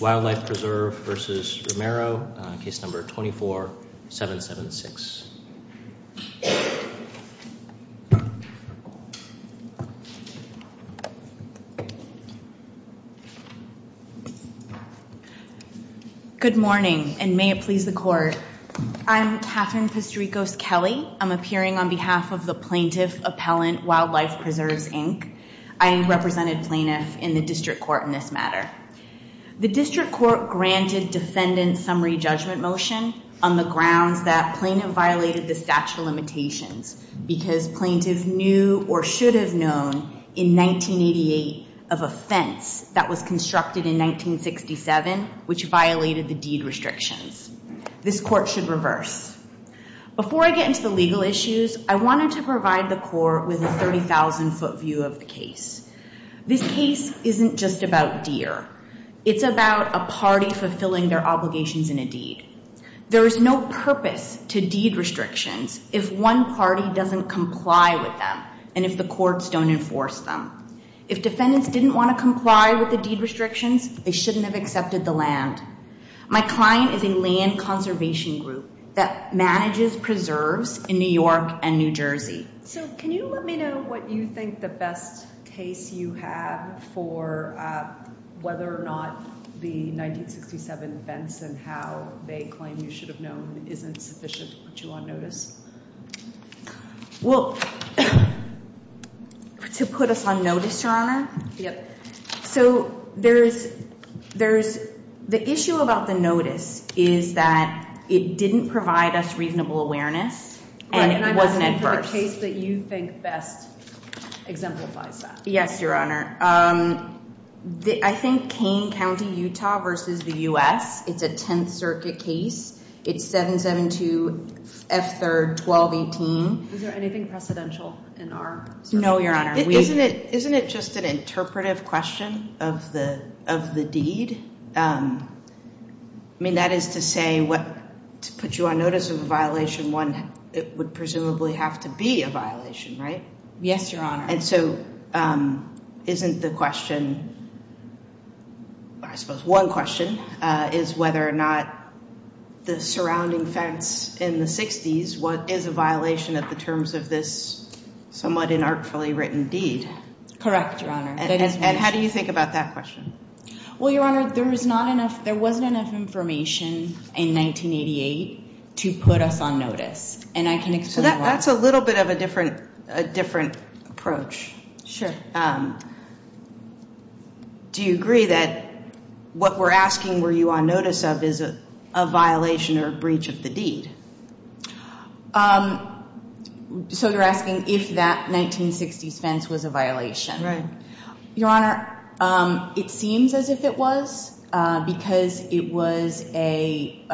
Wildlife Preserve v. Romero, case number 24-776. Good morning, and may it please the Court. I'm Katherine Pistorikos-Kelly. I'm appearing on behalf of the Plaintiff Appellant Wildlife Preserves, Inc. I represented plaintiff in the district court in this matter. The district court granted defendant summary judgment motion on the grounds that plaintiff violated the statute of limitations because plaintiff knew or should have known in 1988 of a fence that was constructed in 1967 which violated the deed restrictions. This court should reverse. Before I get into the legal issues, I wanted to provide the Court with a 30,000-foot view of the case. This case isn't just about deer. It's about a party fulfilling their obligations in a deed. There is no purpose to deed restrictions if one party doesn't comply with them and if the courts don't enforce them. If defendants didn't want to comply with the deed restrictions, they shouldn't have accepted the land. My client is a land conservation group that manages preserves in New York and New Jersey. So can you let me know what you think the best case you have for whether or not the 1967 fence and how they claim you should have known isn't sufficient to put you on notice? Well, to put us on notice, Your Honor? Yep. So there is – the issue about the notice is that it didn't provide us reasonable awareness and it wasn't adverse. Right, and I'm asking for the case that you think best exemplifies that. Yes, Your Honor. I think Kane County, Utah versus the U.S. It's a Tenth Circuit case. It's 772 F. 3rd 1218. Is there anything precedential in our circuit? No, Your Honor. Isn't it just an interpretive question of the deed? I mean, that is to say to put you on notice of a violation, it would presumably have to be a violation, right? Yes, Your Honor. And so isn't the question – I suppose one question is whether or not the surrounding fence in the 60s is a violation of the terms of this somewhat inartfully written deed? Correct, Your Honor. And how do you think about that question? Well, Your Honor, there was not enough – there wasn't enough information in 1988 to put us on notice, and I can explain why. So that's a little bit of a different approach. Do you agree that what we're asking were you on notice of is a violation or a breach of the deed? So you're asking if that 1960s fence was a violation? Right. Your Honor, it seems as if it was because it was a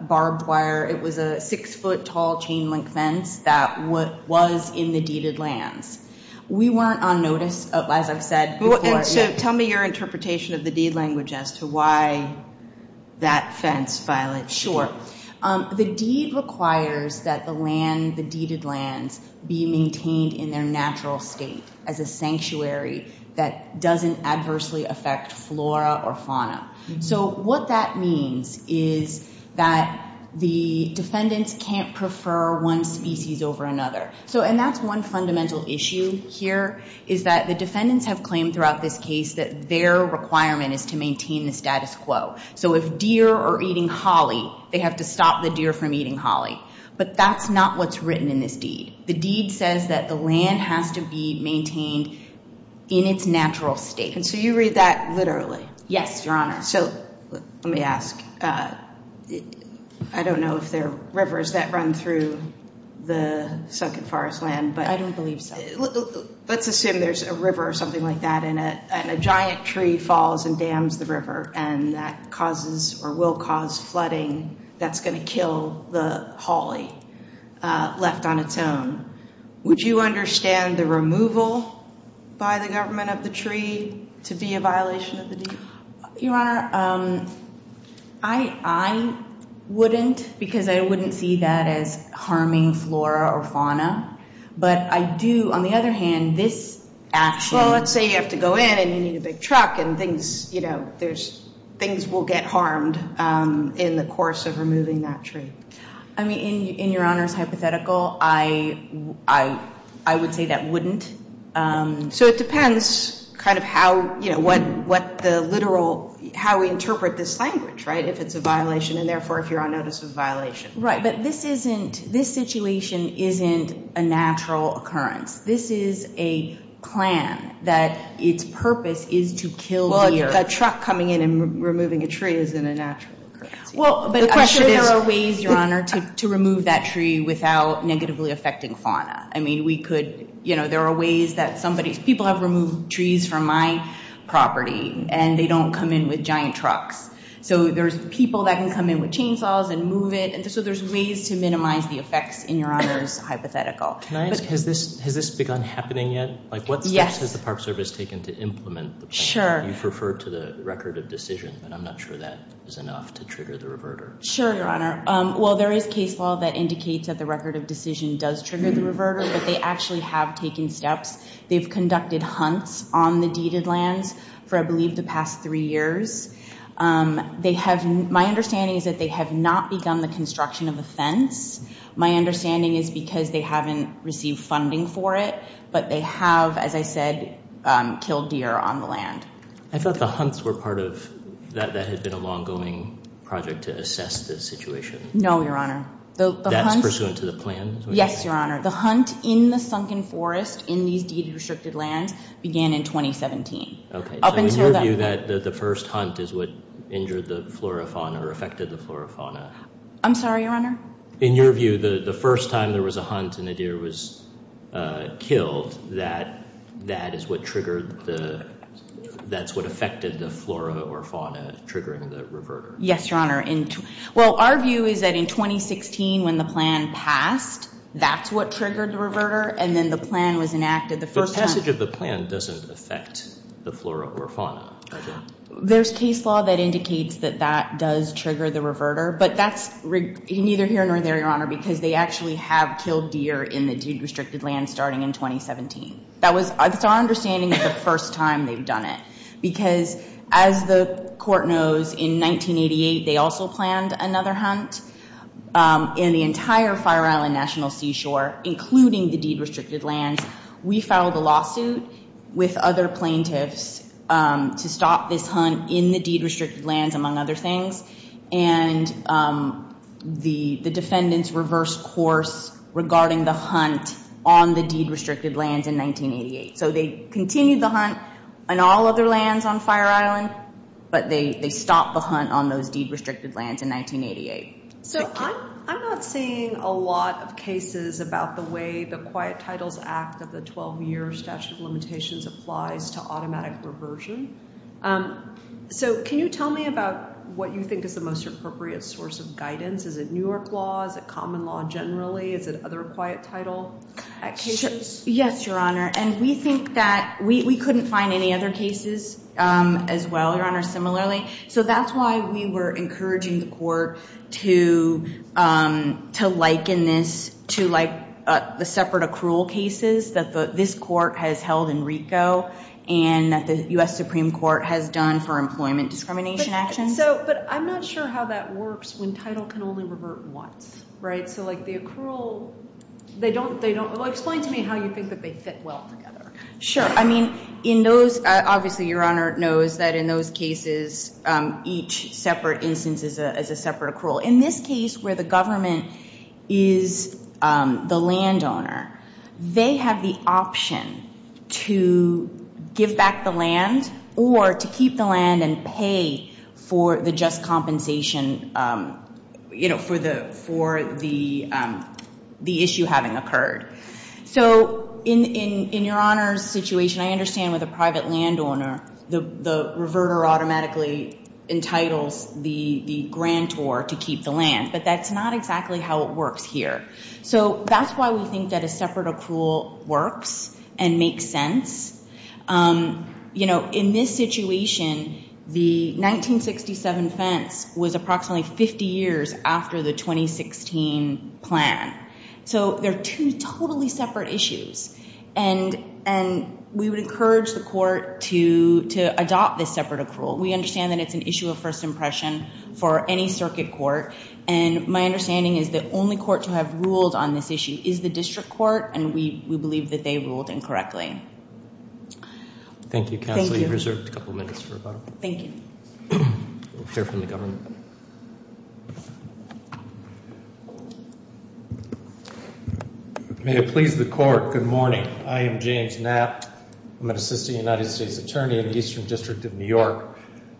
barbed wire – it was a 6-foot-tall chain-link fence that was in the deeded lands. We weren't on notice, as I've said before. So tell me your interpretation of the deed language as to why that fence violated the deed. The deed requires that the land – the deeded lands be maintained in their natural state as a sanctuary that doesn't adversely affect flora or fauna. So what that means is that the defendants can't prefer one species over another. So – and that's one fundamental issue here is that the defendants have claimed throughout this case that their requirement is to maintain the status quo. So if deer are eating holly, they have to stop the deer from eating holly. But that's not what's written in this deed. The deed says that the land has to be maintained in its natural state. And so you read that literally? Yes, Your Honor. So let me ask. I don't know if there are rivers that run through the sunken forest land, but – I don't believe so. Let's assume there's a river or something like that and a giant tree falls and dams the river and that causes or will cause flooding that's going to kill the holly left on its own. Would you understand the removal by the government of the tree to be a violation of the deed? Your Honor, I wouldn't because I wouldn't see that as harming flora or fauna. But I do, on the other hand, this action – Well, let's say you have to go in and you need a big truck and things, you know, there's – things will get harmed in the course of removing that tree. I mean, in Your Honor's hypothetical, I would say that wouldn't. So it depends kind of how, you know, what the literal – how we interpret this language, right, if it's a violation and, therefore, if you're on notice of a violation. Right, but this isn't – this situation isn't a natural occurrence. This is a plan that its purpose is to kill deer. Well, a truck coming in and removing a tree isn't a natural occurrence. Well, but I'm sure there are ways, Your Honor, to remove that tree without negatively affecting fauna. I mean, we could – you know, there are ways that somebody – people have removed trees from my property and they don't come in with giant trucks. So there's people that can come in with chainsaws and move it. And so there's ways to minimize the effects in Your Honor's hypothetical. Can I ask – has this begun happening yet? Yes. Like, what steps has the Park Service taken to implement the plan? Sure. You've referred to the record of decision, but I'm not sure that is enough to trigger the reverter. Sure, Your Honor. Well, there is case law that indicates that the record of decision does trigger the reverter, but they actually have taken steps. They've conducted hunts on the deeded lands for, I believe, the past three years. They have – my understanding is that they have not begun the construction of a fence. My understanding is because they haven't received funding for it, but they have, as I said, killed deer on the land. I thought the hunts were part of – that had been a long-going project to assess the situation. No, Your Honor. That's pursuant to the plan? Yes, Your Honor. The hunt in the sunken forest in these deeded, restricted lands began in 2017. Okay. So in your view, the first hunt is what injured the flora fauna or affected the flora fauna? I'm sorry, Your Honor? In your view, the first time there was a hunt and a deer was killed, that is what triggered the – that's what affected the flora or fauna triggering the reverter? Yes, Your Honor. Well, our view is that in 2016 when the plan passed, that's what triggered the reverter, and then the plan was enacted the first time. But the passage of the plan doesn't affect the flora or fauna, does it? There's case law that indicates that that does trigger the reverter, but that's neither here nor there, Your Honor, because they actually have killed deer in the deed-restricted lands starting in 2017. That was – that's our understanding of the first time they've done it. Because as the court knows, in 1988 they also planned another hunt in the entire Fire Island National Seashore, including the deed-restricted lands. We filed a lawsuit with other plaintiffs to stop this hunt in the deed-restricted lands, among other things, and the defendants reversed course regarding the hunt on the deed-restricted lands in 1988. So they continued the hunt on all other lands on Fire Island, but they stopped the hunt on those deed-restricted lands in 1988. So I'm not seeing a lot of cases about the way the Quiet Titles Act of the 12-year statute of limitations applies to automatic reversion. So can you tell me about what you think is the most appropriate source of guidance? Is it New York law? Is it common law generally? Is it other Quiet Title Act cases? Yes, Your Honor, and we think that – we couldn't find any other cases as well, Your Honor, similarly. So that's why we were encouraging the court to liken this to like the separate accrual cases that this court has held in RICO and that the U.S. Supreme Court has done for employment discrimination actions. But I'm not sure how that works when title can only revert once, right? So like the accrual – they don't – well, explain to me how you think that they fit well together. Sure. I mean in those – obviously Your Honor knows that in those cases each separate instance is a separate accrual. In this case where the government is the landowner, they have the option to give back the land or to keep the land and pay for the just compensation for the issue having occurred. So in Your Honor's situation, I understand with a private landowner the reverter automatically entitles the grantor to keep the land. But that's not exactly how it works here. So that's why we think that a separate accrual works and makes sense. You know, in this situation, the 1967 fence was approximately 50 years after the 2016 plan. So they're two totally separate issues. And we would encourage the court to adopt this separate accrual. We understand that it's an issue of first impression for any circuit court. And my understanding is the only court to have ruled on this issue is the district court. And we believe that they ruled incorrectly. Thank you, counsel. You've reserved a couple minutes for rebuttal. Thank you. We'll hear from the government. May it please the court, good morning. I am James Knapp. I'm an assistant United States attorney in the Eastern District of New York.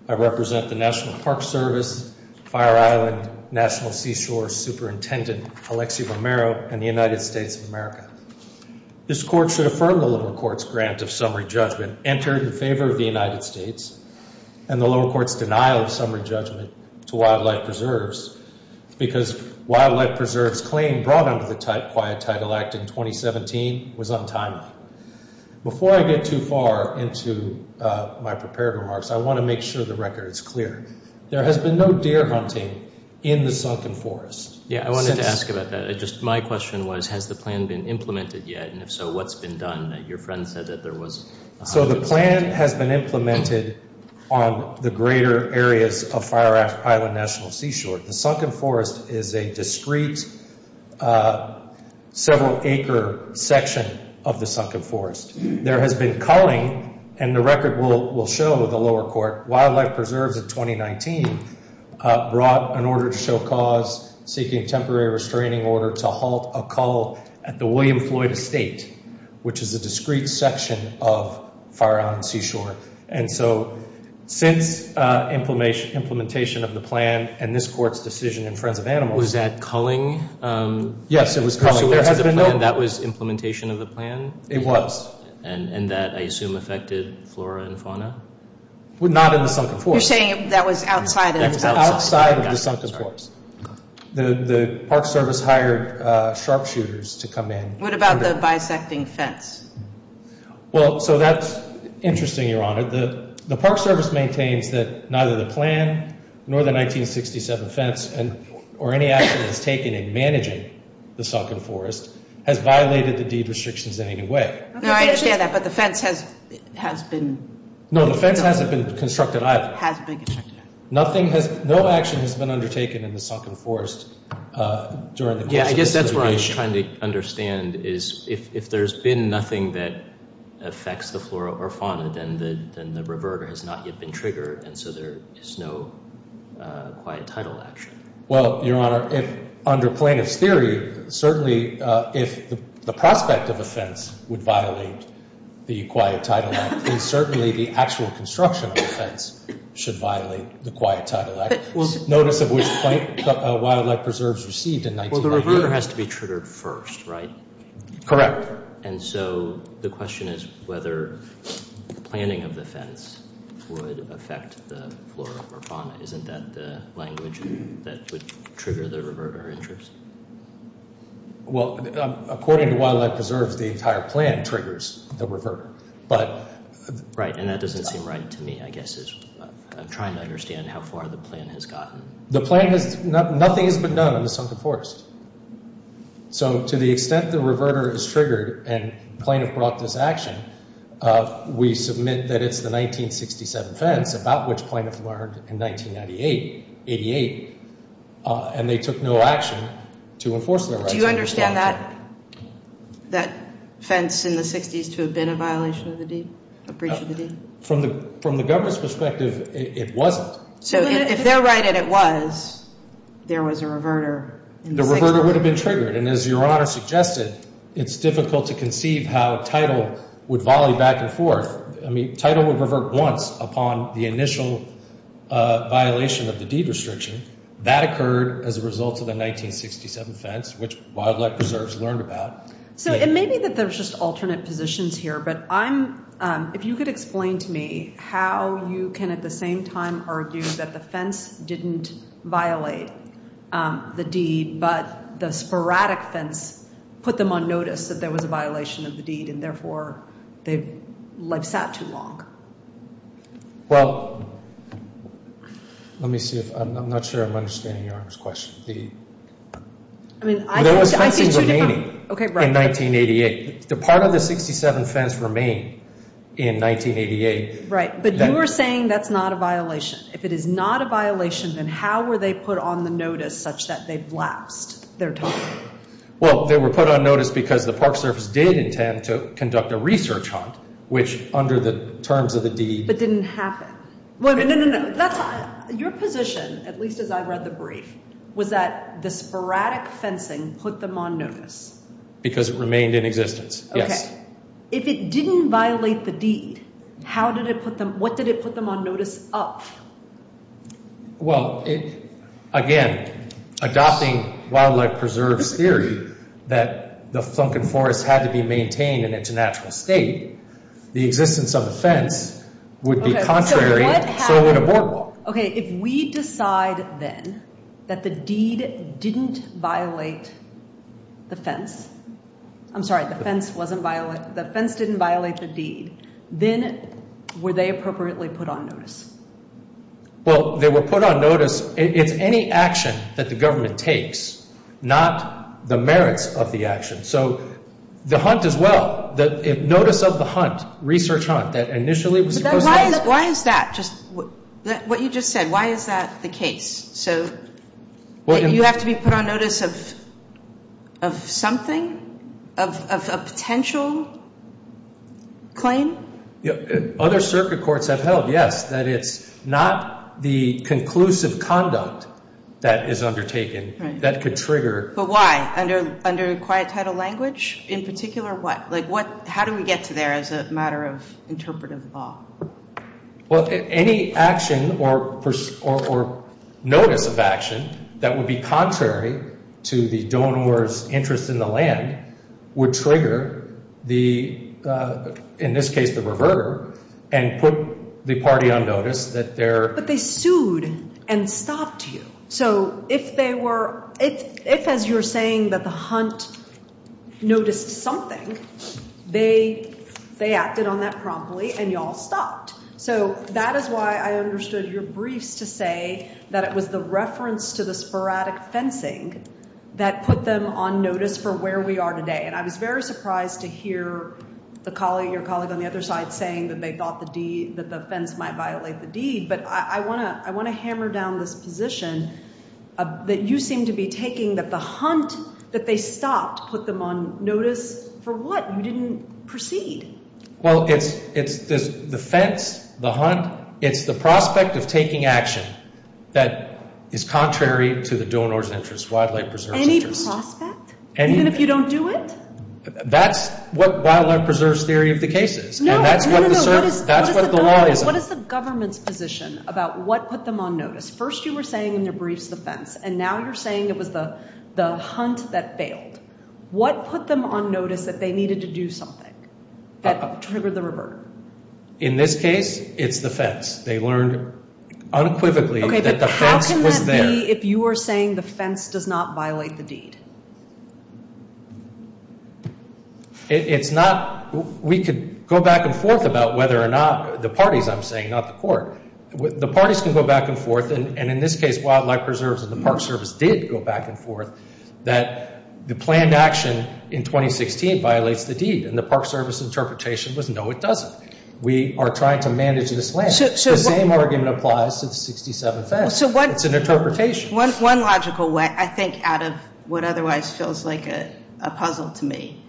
I represent the National Park Service, Fire Island National Seashore Superintendent, Alexi Romero, and the United States of America. This court should affirm the lower court's grant of summary judgment entered in favor of the United States and the lower court's denial of summary judgment to Wildlife Preserves because Wildlife Preserves' claim brought under the Quiet Title Act in 2017 was untimely. Before I get too far into my prepared remarks, I want to make sure the record is clear. There has been no deer hunting in the Sunken Forest. Yeah, I wanted to ask about that. Just my question was, has the plan been implemented yet? And if so, what's been done? Your friend said that there was a hundred percent. So the plan has been implemented on the greater areas of Fire Island National Seashore. The Sunken Forest is a discrete, several-acre section of the Sunken Forest. There has been culling, and the record will show the lower court, Wildlife Preserves in 2019 brought an order to show cause seeking temporary restraining order to halt a cull at the William Floyd Estate, which is a discrete section of Fire Island Seashore. And so since implementation of the plan and this court's decision in Friends of Animals— Was that culling? Yes, it was culling. There has been no— So that was implementation of the plan? It was. And that, I assume, affected flora and fauna? Not in the Sunken Forest. You're saying that was outside of the Sunken Forest. Outside of the Sunken Forest. The Park Service hired sharpshooters to come in. What about the bisecting fence? Well, so that's interesting, Your Honor. The Park Service maintains that neither the plan, nor the 1967 fence, or any action that's taken in managing the Sunken Forest has violated the deed restrictions in any way. No, I understand that, but the fence has been— No, the fence hasn't been constructed either. Has been constructed. No action has been undertaken in the Sunken Forest during the course of this litigation. What I'm trying to understand is if there's been nothing that affects the flora or fauna, then the reverter has not yet been triggered, and so there is no quiet title action. Well, Your Honor, under plaintiff's theory, certainly if the prospect of offense would violate the Quiet Title Act, then certainly the actual construction of the fence should violate the Quiet Title Act. Notice of which wildlife preserves received in— Well, the reverter— The reverter has to be triggered first, right? Correct. And so the question is whether planning of the fence would affect the flora or fauna. Isn't that the language that would trigger the reverter interest? Well, according to wildlife preserves, the entire plan triggers the reverter, but— Right, and that doesn't seem right to me, I guess, is I'm trying to understand how far the plan has gotten. The plan has—nothing has been done on the Sunken Forest. So to the extent the reverter is triggered and plaintiff brought this action, we submit that it's the 1967 fence, about which plaintiff learned in 1988, and they took no action to enforce their rights. Do you understand that fence in the 60s to have been a violation of the deed, a breach of the deed? From the government's perspective, it wasn't. So if they're right and it was, there was a reverter in the 60s. The reverter would have been triggered, and as Your Honor suggested, it's difficult to conceive how title would volley back and forth. I mean, title would revert once upon the initial violation of the deed restriction. That occurred as a result of the 1967 fence, which wildlife preserves learned about. So it may be that there's just alternate positions here, but I'm— If you could explain to me how you can at the same time argue that the fence didn't violate the deed, but the sporadic fence put them on notice that there was a violation of the deed, and therefore they've sat too long. Well, let me see if—I'm not sure I'm understanding Your Honor's question. There was fencing remaining in 1988. The part of the 67 fence remained in 1988. Right, but you are saying that's not a violation. If it is not a violation, then how were they put on the notice such that they've lapsed their time? Well, they were put on notice because the Park Service did intend to conduct a research hunt, which under the terms of the deed— But didn't happen. No, no, no. Your position, at least as I read the brief, was that the sporadic fencing put them on notice. Because it remained in existence, yes. If it didn't violate the deed, how did it put them—what did it put them on notice of? Well, again, adopting wildlife preserves theory that the flunk and forest had to be maintained in its natural state, the existence of the fence would be contrary, so would a boardwalk. Okay, if we decide then that the deed didn't violate the fence—I'm sorry, the fence didn't violate the deed, then were they appropriately put on notice? Well, they were put on notice. It's any action that the government takes, not the merits of the action. So the hunt as well, the notice of the hunt, research hunt, that initially was supposed to— Why is that? What you just said, why is that the case? So you have to be put on notice of something, of a potential claim? Other circuit courts have held, yes, that it's not the conclusive conduct that is undertaken that could trigger— But why? Under quiet title language? In particular, what? How do we get to there as a matter of interpretive law? Well, any action or notice of action that would be contrary to the donor's interest in the land would trigger the, in this case, the reverter, and put the party on notice that they're— But they sued and stopped you. So if they were, if as you're saying that the hunt noticed something, they acted on that promptly and you all stopped. So that is why I understood your briefs to say that it was the reference to the sporadic fencing that put them on notice for where we are today. And I was very surprised to hear the colleague, your colleague on the other side, saying that they thought the deed, that the fence might violate the deed. But I want to hammer down this position that you seem to be taking, that the hunt that they stopped put them on notice for what? You didn't proceed. Well, it's the fence, the hunt, it's the prospect of taking action that is contrary to the donor's interest, wildlife preserve's interest. Any prospect? Any— Even if you don't do it? That's what wildlife preserve's theory of the case is. No, no, no. And that's what the law is on. What is the government's position about what put them on notice? First you were saying in your briefs the fence, and now you're saying it was the hunt that failed. What put them on notice that they needed to do something that triggered the revert? In this case, it's the fence. They learned unequivocally that the fence was there. Okay, but how can that be if you are saying the fence does not violate the deed? It's not—we could go back and forth about whether or not the parties, I'm saying, not the court. The parties can go back and forth, and in this case, wildlife preserves and the Park Service did go back and forth, that the planned action in 2016 violates the deed, and the Park Service interpretation was no, it doesn't. We are trying to manage this land. The same argument applies to the 67th fence. It's an interpretation. One logical way, I think, out of what otherwise feels like a puzzle to me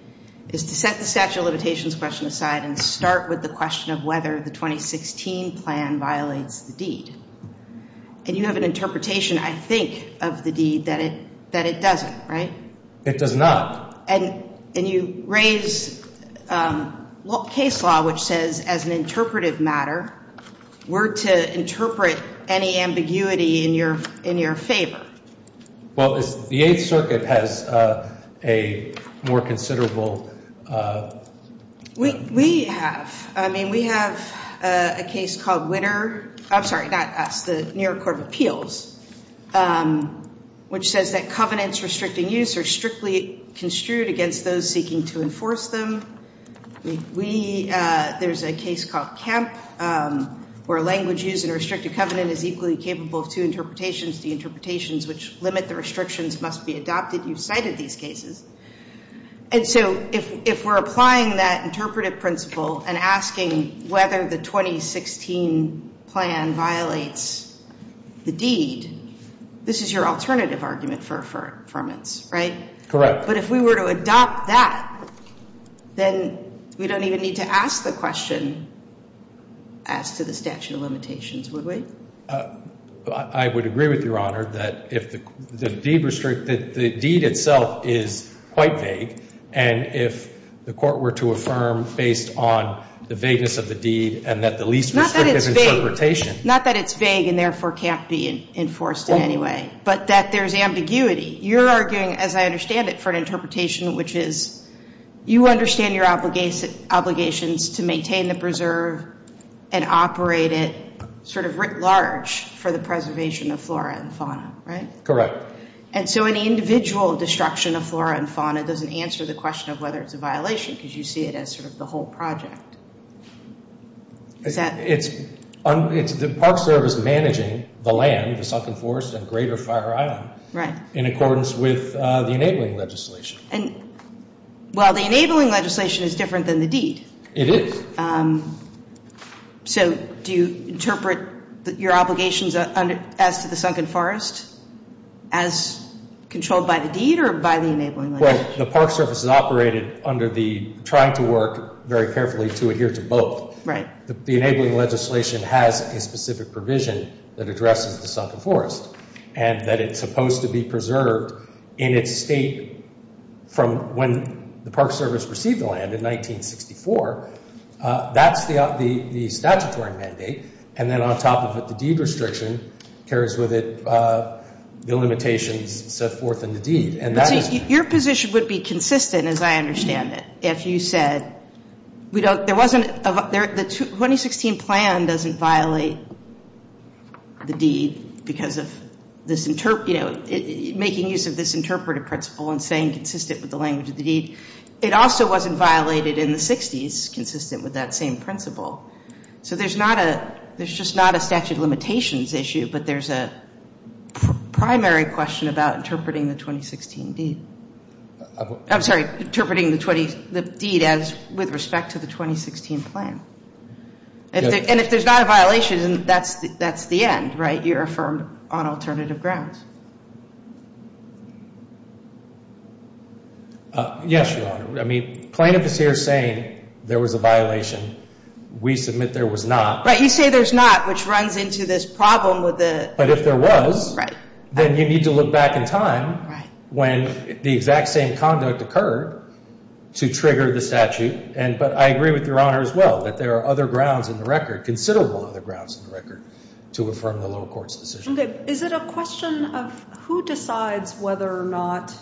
is to set the statute of limitations question aside and start with the question of whether the 2016 plan violates the deed. And you have an interpretation, I think, of the deed that it doesn't, right? It does not. And you raise case law, which says as an interpretive matter, we're to interpret any ambiguity in your favor. Well, the Eighth Circuit has a more considerable— We have. I mean, we have a case called Witter—I'm sorry, not us, the New York Court of Appeals, which says that covenants restricting use are strictly construed against those seeking to enforce them. There's a case called Kemp where language used in a restricted covenant is equally capable of two interpretations. The interpretations which limit the restrictions must be adopted. You've cited these cases. And so if we're applying that interpretive principle and asking whether the 2016 plan violates the deed, this is your alternative argument for affirmance, right? Correct. But if we were to adopt that, then we don't even need to ask the question as to the statute of limitations, would we? I would agree with Your Honor that if the deed itself is quite vague, and if the court were to affirm based on the vagueness of the deed and that the least restrictive interpretation— Not that it's vague and therefore can't be enforced in any way, but that there's ambiguity. You're arguing, as I understand it, for an interpretation which is you understand your obligations to maintain the preserve and operate it sort of writ large for the preservation of flora and fauna, right? Correct. And so an individual destruction of flora and fauna doesn't answer the question of whether it's a violation because you see it as sort of the whole project. The Park Service is managing the land, the sunken forest, and greater Fire Island in accordance with the enabling legislation. Well, the enabling legislation is different than the deed. It is. So do you interpret your obligations as to the sunken forest as controlled by the deed or by the enabling legislation? Well, the Park Service is operated under the trying to work very carefully to adhere to both. Right. The enabling legislation has a specific provision that addresses the sunken forest and that it's supposed to be preserved in its state from when the Park Service received the land in 1964. That's the statutory mandate. And then on top of it, the deed restriction carries with it the limitations set forth in the deed. So your position would be consistent, as I understand it, if you said the 2016 plan doesn't violate the deed because of making use of this interpretive principle and staying consistent with the language of the deed. It also wasn't violated in the 60s consistent with that same principle. So there's just not a statute of limitations issue, but there's a primary question about interpreting the 2016 deed. I'm sorry, interpreting the deed as with respect to the 2016 plan. And if there's not a violation, that's the end, right? You're affirmed on alternative grounds. Yes, Your Honor. I mean, plaintiff is here saying there was a violation. We submit there was not. But you say there's not, which runs into this problem with the. But if there was, then you need to look back in time when the exact same conduct occurred to trigger the statute. But I agree with Your Honor as well that there are other grounds in the record, considerable other grounds in the record to affirm the lower court's decision. Is it a question of who decides whether or not?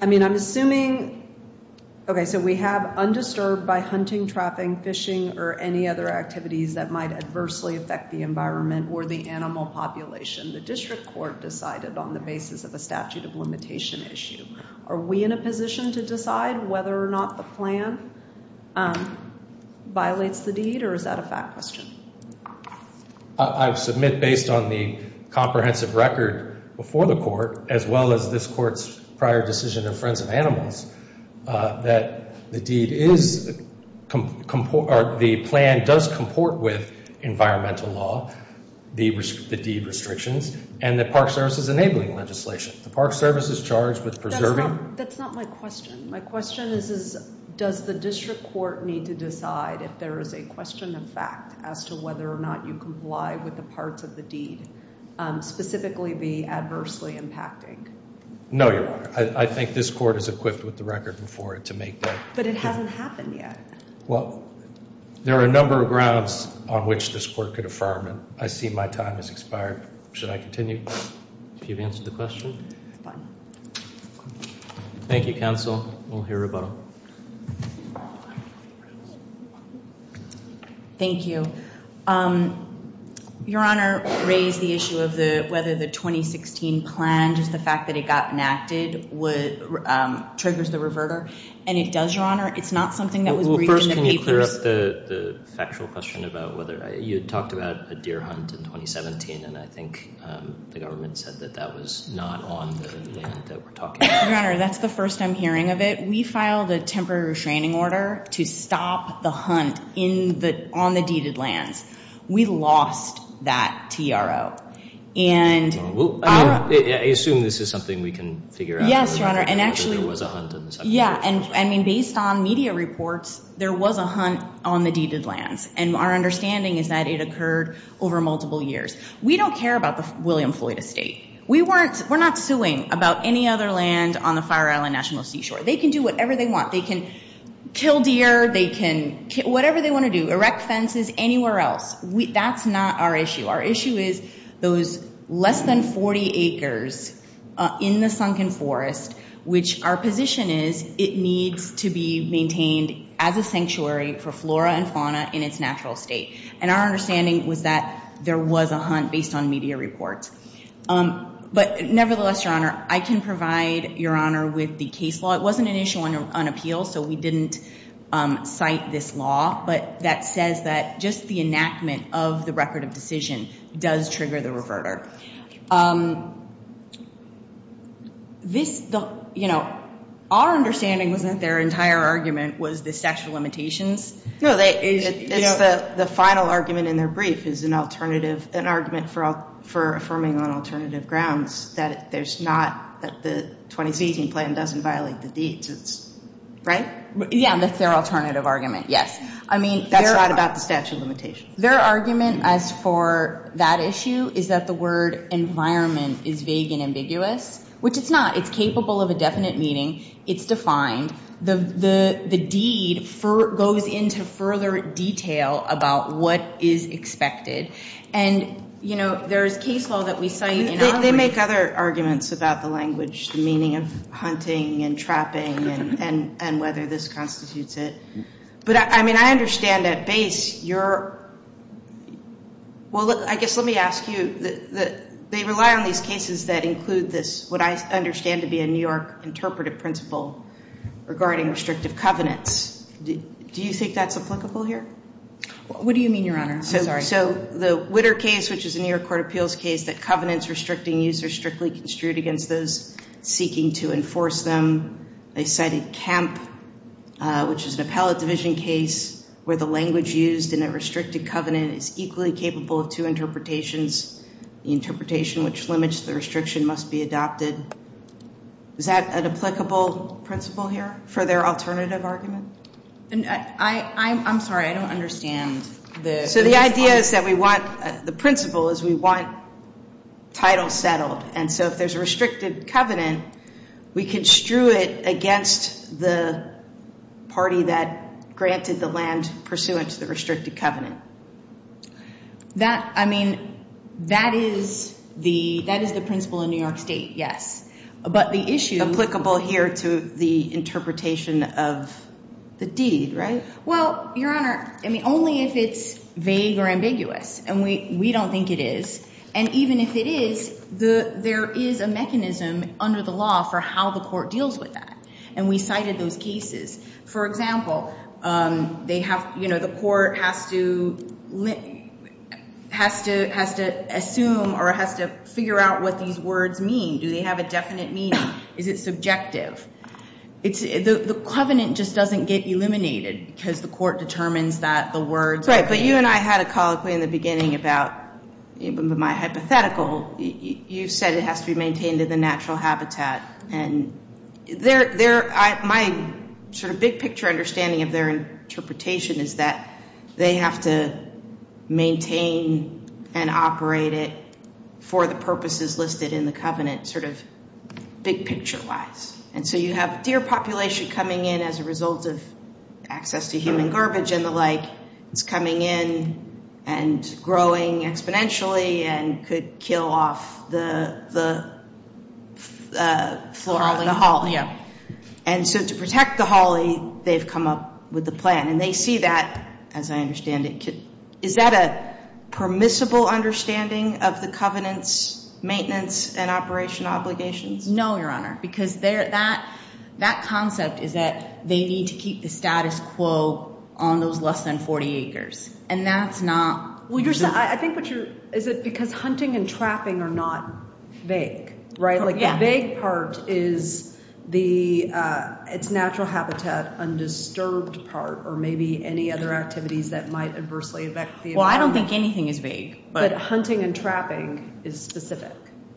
I mean, I'm assuming. OK, so we have undisturbed by hunting, trapping, fishing or any other activities that might adversely affect the environment or the animal population. The district court decided on the basis of a statute of limitation issue. Are we in a position to decide whether or not the plan violates the deed or is that a fact question? I submit based on the comprehensive record before the court, as well as this court's prior decision of Friends of Animals, that the deed is the plan does comport with environmental law. The deed restrictions and the Park Service is enabling legislation. The Park Service is charged with preserving. That's not my question. My question is, does the district court need to decide if there is a question of fact as to whether or not you comply with the parts of the deed, specifically the adversely impacting? No, Your Honor. I think this court is equipped with the record before it to make that. But it hasn't happened yet. Well, there are a number of grounds on which this court could affirm it. I see my time has expired. Should I continue? If you've answered the question. Fine. Thank you, counsel. We'll hear rebuttal. Thank you. Your Honor raised the issue of whether the 2016 plan, just the fact that it got enacted, triggers the reverter. And it does, Your Honor. It's not something that was briefed in the papers. Well, first, can you clear up the factual question about whether you had talked about a deer hunt in 2017, and I think the government said that that was not on the land that we're talking about. Your Honor, that's the first I'm hearing of it. We filed a temporary restraining order to stop the hunt on the deeded lands. We lost that TRO. I assume this is something we can figure out. Yes, Your Honor. And actually – There was a hunt in the second year. Yeah. And, I mean, based on media reports, there was a hunt on the deeded lands. And our understanding is that it occurred over multiple years. We don't care about the William Floyd estate. We're not suing about any other land on the Fire Island National Seashore. They can do whatever they want. They can kill deer. They can whatever they want to do, erect fences anywhere else. That's not our issue. Our issue is those less than 40 acres in the sunken forest, which our position is it needs to be maintained as a sanctuary for flora and fauna in its natural state. And our understanding was that there was a hunt based on media reports. But nevertheless, Your Honor, I can provide Your Honor with the case law. It wasn't an issue on appeal, so we didn't cite this law. But that says that just the enactment of the record of decision does trigger the reverter. Our understanding was that their entire argument was the statute of limitations. No, the final argument in their brief is an argument for affirming on alternative grounds that there's not, that the 2016 plan doesn't violate the deeds. Right? Yeah, that's their alternative argument, yes. That's not about the statute of limitations. Their argument as for that issue is that the word environment is vague and ambiguous, which it's not. It's capable of a definite meaning. It's defined. The deed goes into further detail about what is expected. And, you know, there's case law that we cite in our brief. They make other arguments about the language, the meaning of hunting and trapping and whether this constitutes it. But, I mean, I understand at base you're – well, I guess let me ask you. They rely on these cases that include this, what I understand to be a New York interpretive principle regarding restrictive covenants. Do you think that's applicable here? What do you mean, Your Honor? I'm sorry. So the Witter case, which is a New York court appeals case, that covenants restricting use are strictly construed against those seeking to enforce them. They cited Kemp, which is an appellate division case where the language used in a restricted covenant is equally capable of two interpretations. The interpretation which limits the restriction must be adopted. Is that an applicable principle here for their alternative argument? I'm sorry. I don't understand the principle. So the idea is that we want – the principle is we want title settled. And so if there's a restricted covenant, we construe it against the party that granted the land pursuant to the restricted covenant. That – I mean, that is the principle in New York State, yes. But the issue – Applicable here to the interpretation of the deed, right? Well, Your Honor, I mean, only if it's vague or ambiguous. And we don't think it is. And even if it is, there is a mechanism under the law for how the court deals with that. And we cited those cases. For example, they have – you know, the court has to – has to assume or has to figure out what these words mean. Do they have a definite meaning? Is it subjective? The covenant just doesn't get eliminated because the court determines that the words are vague. You know, you and I had a colloquy in the beginning about – my hypothetical. You said it has to be maintained in the natural habitat. And they're – my sort of big-picture understanding of their interpretation is that they have to maintain and operate it for the purposes listed in the covenant sort of big-picture-wise. And so you have deer population coming in as a result of access to human garbage and the like. It's coming in and growing exponentially and could kill off the flora – the holly. And so to protect the holly, they've come up with the plan. And they see that, as I understand it. Is that a permissible understanding of the covenant's maintenance and operation obligations? No, Your Honor, because that concept is that they need to keep the status quo on those less than 40 acres. And that's not – I think what you're – is it because hunting and trapping are not vague, right? Like the vague part is the – it's natural habitat, undisturbed part or maybe any other activities that might adversely affect the environment. Well, I don't think anything is vague. But hunting and trapping is specific.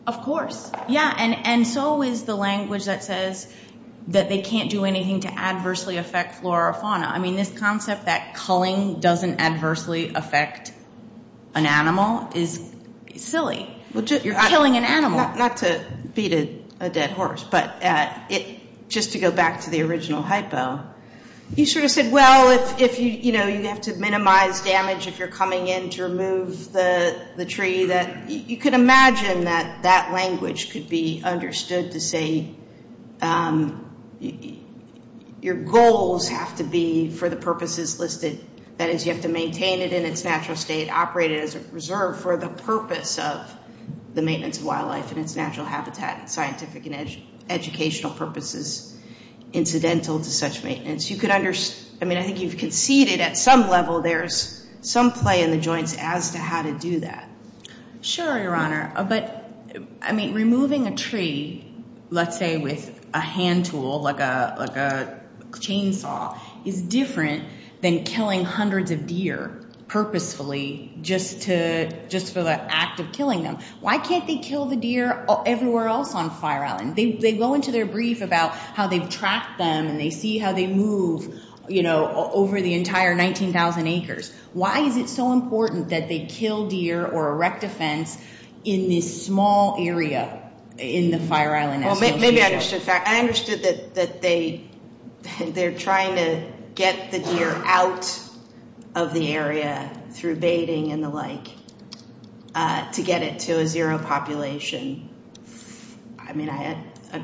Of course. Yeah, and so is the language that says that they can't do anything to adversely affect flora or fauna. I mean, this concept that culling doesn't adversely affect an animal is silly. You're killing an animal. Not to beat a dead horse, but it – just to go back to the original hypo, you sort of said, well, if you – you know, you have to minimize damage if you're coming in to remove the tree. You could imagine that that language could be understood to say your goals have to be for the purposes listed. That is, you have to maintain it in its natural state, operate it as a reserve for the purpose of the maintenance of wildlife and its natural habitat and scientific and educational purposes incidental to such maintenance. You could – I mean, I think you've conceded at some level there's some play in the joints as to how to do that. Sure, Your Honor. But, I mean, removing a tree, let's say with a hand tool like a chainsaw, is different than killing hundreds of deer purposefully just to – just for the act of killing them. Why can't they kill the deer everywhere else on Fire Island? They go into their brief about how they've tracked them and they see how they move, you know, over the entire 19,000 acres. Why is it so important that they kill deer or erect a fence in this small area in the Fire Island? Maybe I understood – I understood that they're trying to get the deer out of the area through baiting and the like to get it to a zero population. I mean,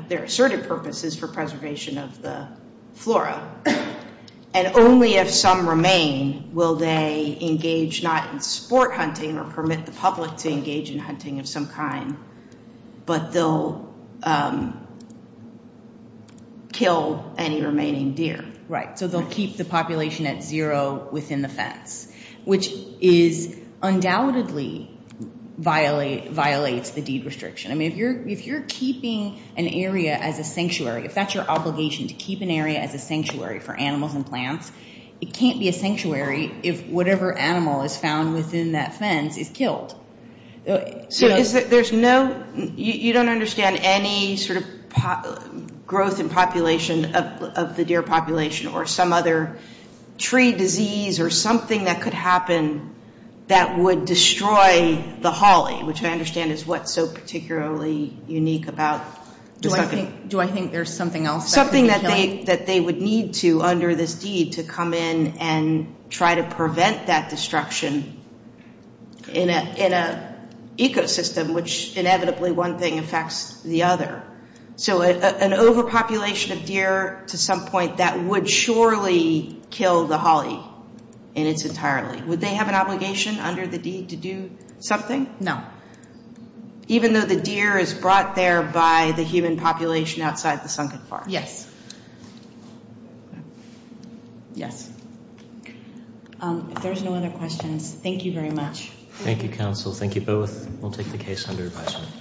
their asserted purpose is for preservation of the flora. And only if some remain will they engage not in sport hunting or permit the public to engage in hunting of some kind, but they'll kill any remaining deer. Right. So they'll keep the population at zero within the fence, which is undoubtedly violates the deed restriction. I mean, if you're keeping an area as a sanctuary, if that's your obligation to keep an area as a sanctuary for animals and plants, it can't be a sanctuary if whatever animal is found within that fence is killed. So is it – there's no – you don't understand any sort of growth in population of the deer population or some other tree disease or something that could happen that would destroy the holly, which I understand is what's so particularly unique about – Do I think – do I think there's something else that could be killing? Under this deed to come in and try to prevent that destruction in an ecosystem, which inevitably one thing affects the other. So an overpopulation of deer to some point, that would surely kill the holly in its entirely. Would they have an obligation under the deed to do something? No. Even though the deer is brought there by the human population outside the sunken farm? Yes. Yes. If there's no other questions, thank you very much. Thank you, counsel. Thank you both. We'll take the case under advisement.